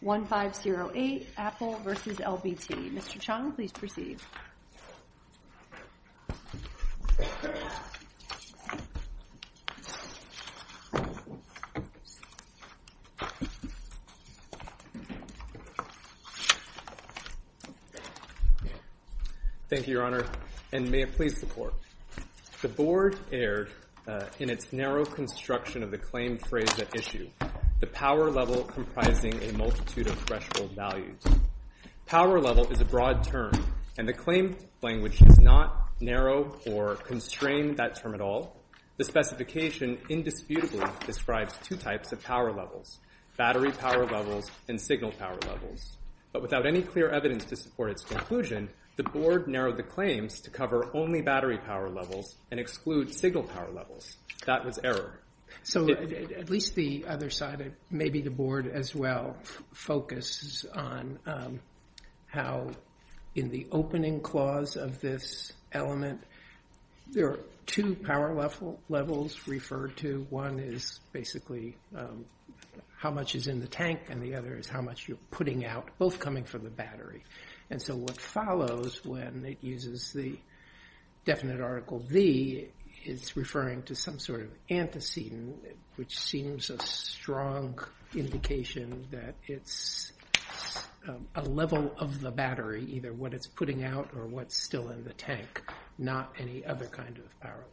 1508, Apple v. LBT. Mr. Chong, please proceed. Thank you, Your Honor, and may it please the Court. The Board erred in its narrow construction of the claim phrase at issue, the power level comprising a multitude of threshold values. Power level is a broad term, and the claim language does not narrow or constrain that term at all. The specification indisputably describes two types of power levels, battery power levels and signal power levels. But without any clear evidence to support its conclusion, the Board narrowed the claims to cover only battery power levels and exclude signal power levels. That was error. So at least the other side, maybe the Board as well, focuses on how in the opening clause of this element, there are two power levels referred to. One is basically how much is in the tank, and the other is how much you're putting out, both coming from the battery. And so what follows when it uses the definite article v. is referring to some sort of antecedent, which seems a strong indication that it's a level of the battery, either what it's putting out or what's still in the tank, not any other kind of power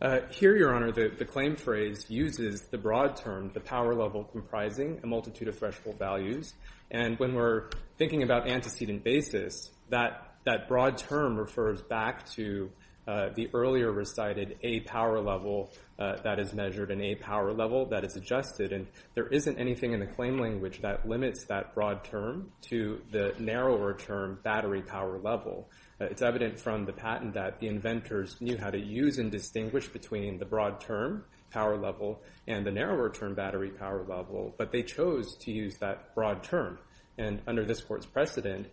level. Here, Your Honor, the claim phrase uses the broad term, the power level comprising a multitude of threshold values. And when we're thinking about antecedent basis, that broad term refers back to the earlier recited A power level that is measured and A power level that is adjusted. And there isn't anything in the claim language that limits that broad term to the narrower term, battery power level. It's evident from the patent that the inventors knew how to use and distinguish between the broad term, power level, and the narrower term, battery power level, but they chose to use that broad term. And under this court's precedent,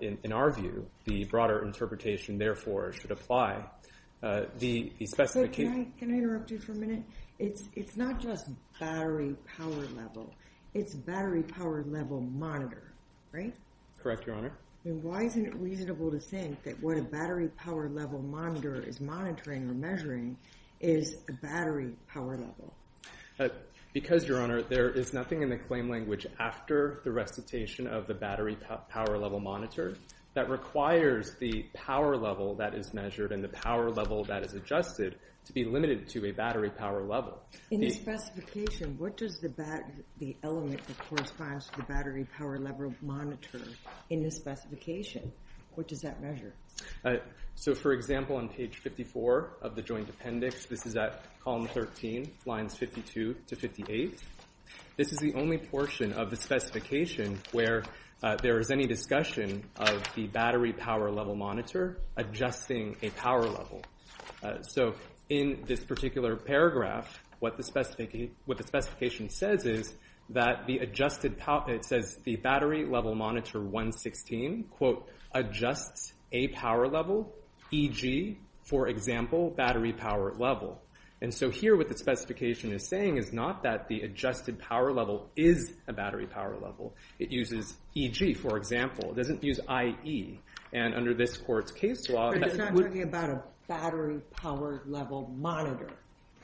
in our view, the broader interpretation, therefore, should apply. Can I interrupt you for a minute? It's not just battery power level. It's battery power level monitor, right? Correct, Your Honor. Why isn't it reasonable to think that what a battery power level monitor is monitoring or measuring is a battery power level? Because, Your Honor, there is nothing in the claim language after the recitation of the battery power level monitor that requires the power level that is measured and the power level that is adjusted to be limited to a battery power level. In this specification, what does the element that corresponds to the battery power level monitor in this specification, what does that mean? So, for example, on page 54 of the joint appendix, this is at column 13, lines 52 to 58, this is the only portion of the specification where there is any discussion of the battery power level monitor adjusting a power level. So, in this particular paragraph, what the specification says is that the adjusted power, it says the battery level monitor 116, quote, adjusts a power level, e.g., for example, battery power level. And so here what the specification is saying is not that the adjusted power level is a battery power level. It uses e.g., for example. It doesn't use i.e. And under this court's case law... But it's not talking about a battery power level monitor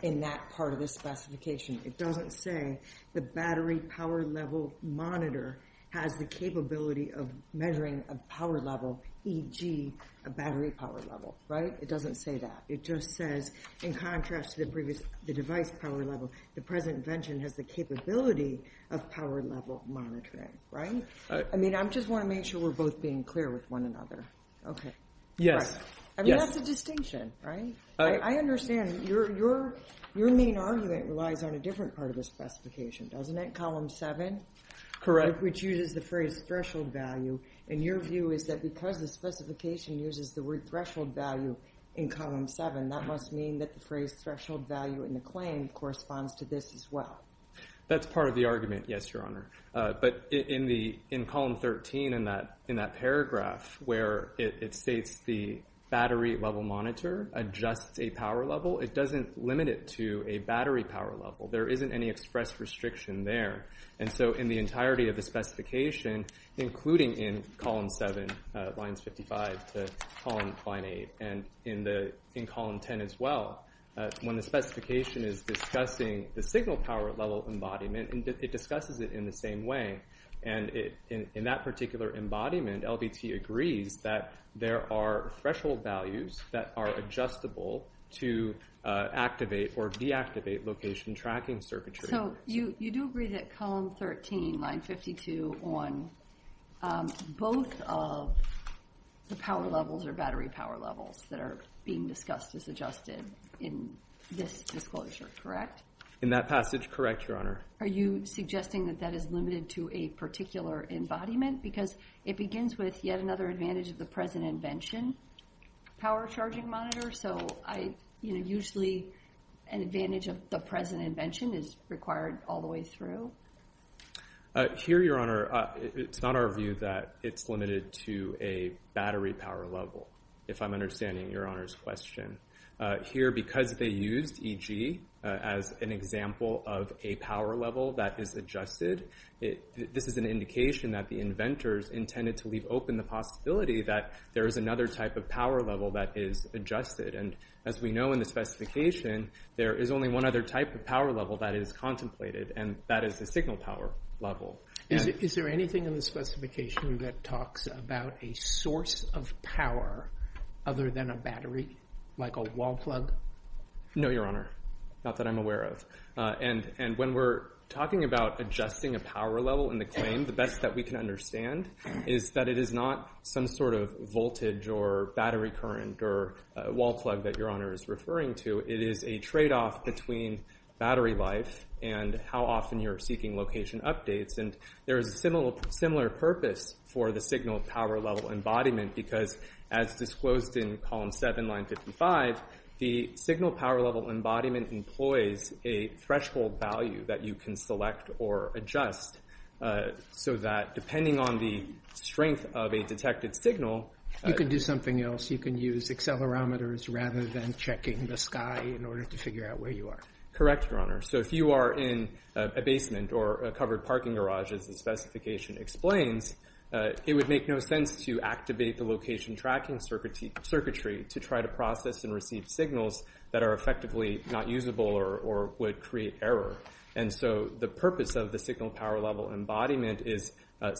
in that part of the specification. It doesn't say the battery power level monitor has the capability of measuring a power level, e.g., a battery power level, right? It doesn't say that. It just says, in contrast to the previous, the device power level, the present invention has the capability of power level monitoring, right? I mean, I just want to make sure we're both being clear with one another. Okay. Yes. I mean, that's a distinction, right? I understand your main argument relies on a different part of the specification, doesn't it? Column 7? Correct. Which uses the phrase threshold value. And your view is that because the specification uses the word threshold value in column 7, that must mean that the phrase threshold value in the claim corresponds to this as well. That's part of the argument, yes, Your Honor. But in column 13 in that paragraph where it states the battery level monitor adjusts a power level, it doesn't limit it to a battery power level. There isn't any express restriction there. And so in the entirety of the specification, including in column 7, lines 55 to column 8, and in column 10 as well, when the specification is discussing the signal power level embodiment, it discusses it in the same way. And in that particular embodiment, LBT agrees that there are threshold values that are adjustable to activate or deactivate location tracking circuitry. So you do agree that column 13, line 52, on both of the power levels or battery power levels that are being discussed as adjusted in this disclosure, correct? In that passage, correct, Your Honor. Are you suggesting that that is limited to a particular embodiment? Because it begins with yet another advantage of the present invention, power charging monitor. So usually an advantage of the present invention is required all the way through. Here, Your Honor, it's not our view that it's limited to a battery power level, if I'm understanding Your Honor's question. Here, because they used EG as an example of a power level that is adjusted, this is an indication that the inventors intended to leave open the possibility that there is another type of power level that is adjusted. And as we know in the specification, there is only one other type of power level that is contemplated, and that is the signal power level. Is there anything in the specification that talks about a source of power other than a battery, like a wall plug? No, Your Honor. Not that I'm aware of. And when we're talking about adjusting a power level in the claim, the best that we can understand is that it is not some sort of voltage or battery current or wall plug that Your Honor is referring to. It is a tradeoff between battery life and how often you're seeking location updates. And there is a similar purpose for the signal power level embodiment, because as disclosed in column 7, line 55, the signal power level embodiment employs a threshold value that you can select or adjust, so that depending on the strength of a detected signal You can do something else. You can use accelerometers rather than checking the sky in order to figure out where you are. Correct, Your Honor. So if you are in a basement or a covered parking garage, as the circuitry to try to process and receive signals that are effectively not usable or would create error. And so the purpose of the signal power level embodiment is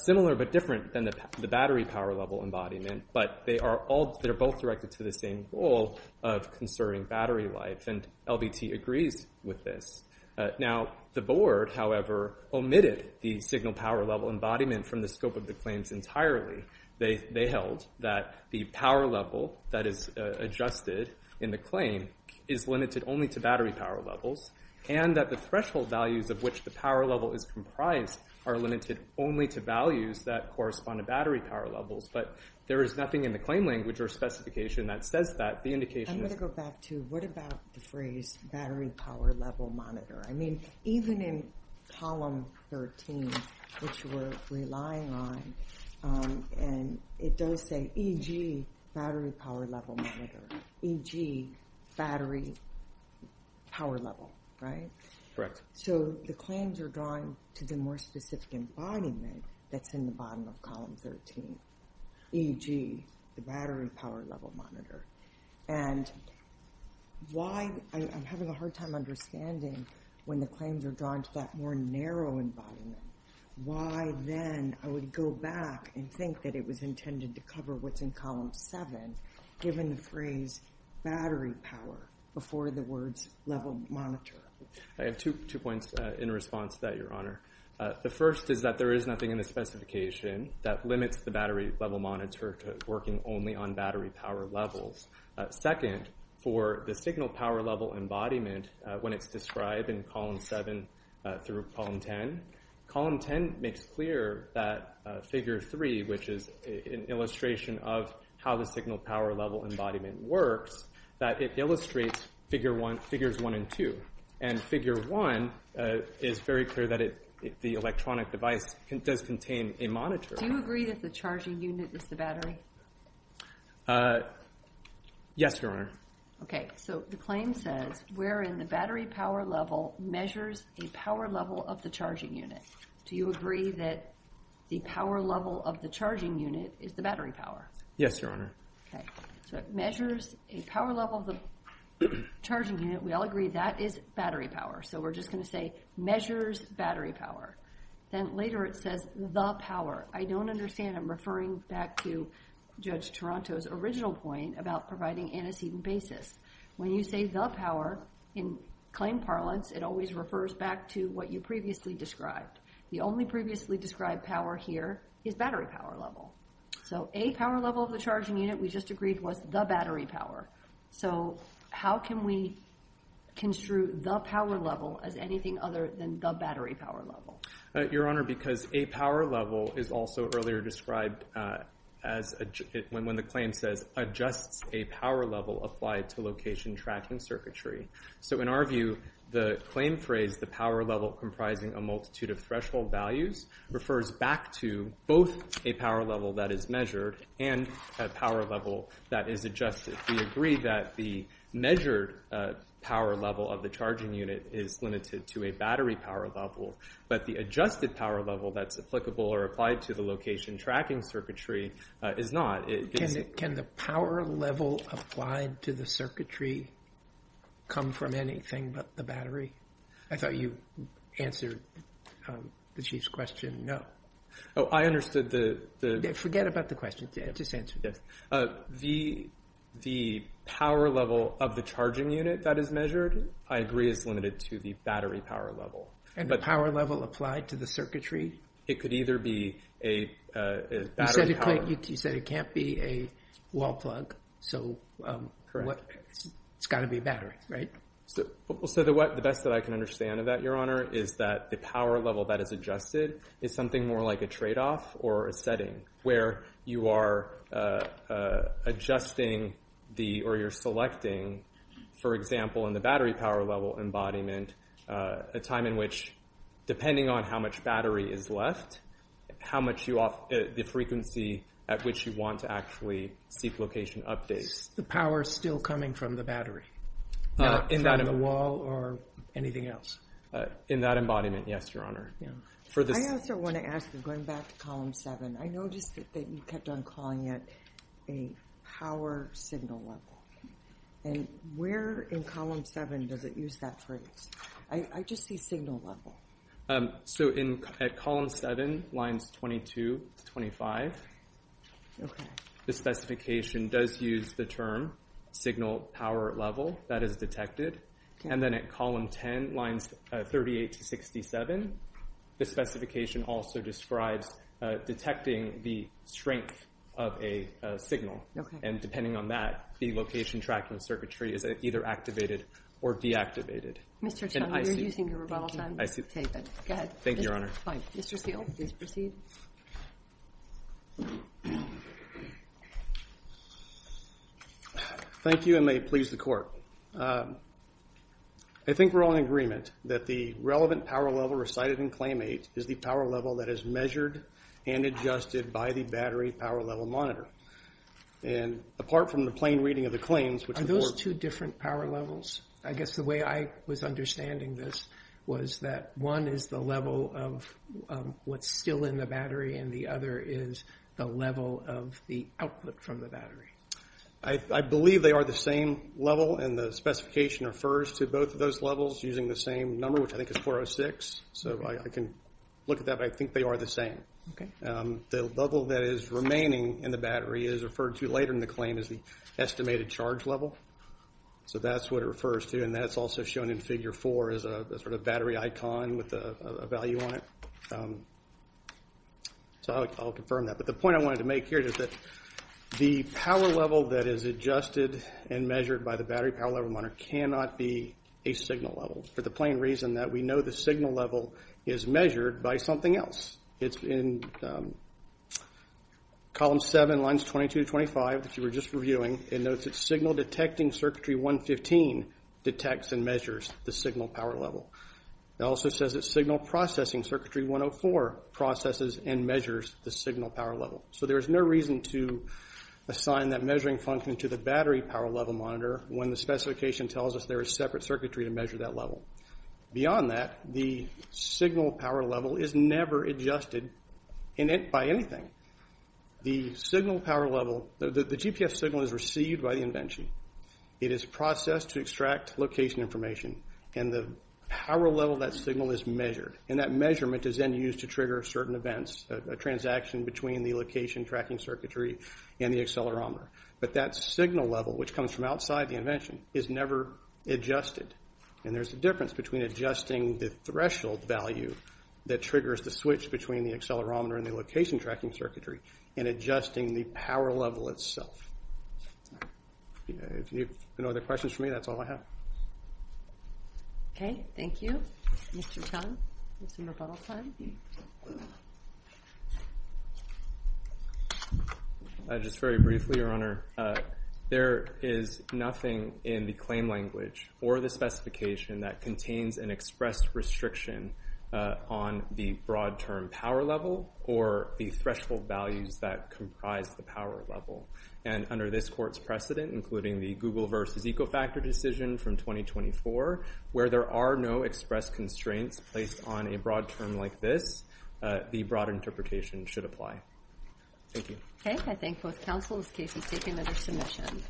similar but different than the battery power level embodiment, but they are both directed to the same goal of conserving battery life, and LBT agrees with this. Now, the board, however, omitted the signal power level embodiment from the scope of the that is adjusted in the claim is limited only to battery power levels, and that the threshold values of which the power level is comprised are limited only to values that correspond to battery power levels, but there is nothing in the claim language or specification that says that. I'm going to go back to what about the phrase battery power level monitor. I mean, even in column 13, which we're relying on, and it does say, e.g., battery power level monitor, e.g., battery power level, right? Correct. So the claims are drawn to the more specific embodiment that's in the bottom of column 13, e.g., the battery power level monitor, and why I'm having a hard time understanding when the claims are drawn to that more narrow embodiment, why then I would go back and think that it was intended to cover what's in column 7, given the phrase battery power before the words level monitor. I have two points in response to that, Your Honor. The first is that there is nothing in the specification that limits the battery level monitor to working only on battery power levels. Second, for the signal power level embodiment, when it's described in column 7 through column 10, column 10 makes clear that figure 3, which is an illustration of how the signal power level embodiment works, that it illustrates figures 1 and 2. And figure 1 is very clear that the electronic device does contain a monitor. Do you agree that the charging unit is the battery? Yes, Your Honor. Okay. So the claim says wherein the battery power level measures a power level of the charging unit. Do you agree that the power level of the charging unit is the battery power? Yes, Your Honor. Okay. So it measures a power level of the charging unit. We all agree that is battery power. So we're just going to say measures battery power. Then later it says the power. I don't understand. I'm referring back to Judge Toronto's original point about providing antecedent basis. When you say the power in claim parlance, it always refers back to what you previously described. The only previously described power here is battery power level. So a power level of the charging unit, we just agreed, was the battery power. So how can we construe the power level as anything other than the battery power level? Your Honor, because a power level is also earlier described when the claim says adjusts a power level applied to location tracking circuitry. So in our view, the claim phrase, the power level comprising a multitude of threshold values, refers back to both a power level that is measured and a power level that is adjusted. We agree that the measured power level of the charging unit is limited to a battery power level, but the adjusted power level that's applicable or applied to the location tracking circuitry is not. Can the power level applied to the circuitry come from anything but the battery? I thought you answered the Chief's question, no. Oh, I understood. Forget about the question. Just answer it. The power level of the charging unit that is measured, I agree, is limited to the battery power level. And the power level applied to the circuitry? It could either be a battery power level. You said it can't be a wall plug, so it's got to be a battery, right? So the best that I can understand of that, Your Honor, is that the power level that is adjusted is something more like a trade-off or a setting where you are adjusting or you're selecting, for example, in the battery power level embodiment, a time in which, depending on how much battery is left, the frequency at which you want to actually seek location updates. The power is still coming from the battery, not from the wall or anything else? In that embodiment, yes, Your Honor. I also want to ask, going back to Column 7, I noticed that you kept on calling it a power signal level. And where in Column 7 does it use that phrase? I just see signal level. So at Column 7, lines 22 to 25, the specification does use the term signal power level. That is detected. And then at Column 10, lines 38 to 67, the specification also describes detecting the strength of a signal. And depending on that, the location tracking circuitry is either activated or deactivated. Mr. Chung, you're using your rebuttal time. Go ahead. Thank you, Your Honor. Mr. Steele, please proceed. Thank you, and may it please the Court. I think we're all in agreement that the relevant power level recited in Claim 8 is the power level that is measured and adjusted by the battery power level monitor. And apart from the plain reading of the claims, which the Court- Are those two different power levels? I guess the way I was understanding this was that one is the level of what's still in the battery, and the other is the level of the output from the battery. I believe they are the same level, and the specification refers to both of those levels using the same number, which I think is 406. So I can look at that, but I think they are the same. The level that is remaining in the battery is referred to later in the claim as the estimated charge level. So that's what it refers to, and that's also shown in Figure 4 as a sort of battery icon with a value on it. So I'll confirm that. But the point I wanted to make here is that the power level that is adjusted and measured by the battery power level monitor cannot be a signal level, for the plain reason that we know the signal level is measured by something else. It's in Column 7, Lines 22 to 25 that you were just reviewing. It notes that signal detecting circuitry 115 detects and measures the signal power level. It also says that signal processing circuitry 104 processes and measures the signal power level. So there is no reason to assign that measuring function to the battery power level monitor when the specification tells us there is separate circuitry to measure that level. Beyond that, the signal power level is never adjusted by anything. The signal power level, the GPS signal is received by the invention. It is processed to extract location information, and the power level of that signal is measured. And that measurement is then used to trigger certain events, a transaction between the location tracking circuitry and the accelerometer. But that signal level, which comes from outside the invention, is never adjusted. And there's a difference between adjusting the threshold value that triggers the switch between the accelerometer and the location tracking circuitry, and adjusting the power level itself. If you have no other questions for me, that's all I have. Okay, thank you. Mr. Tong, we have some rebuttal time. Just very briefly, Your Honor. There is nothing in the claim language or the specification that contains an express restriction on the broad term power level or the threshold values that comprise the power level. And under this court's precedent, including the Google versus Ecofactor decision from 2024, where there are no express constraints placed on a broad term like this, the broad interpretation should apply. Thank you. Okay, I thank both counsels. Casey, take another submission.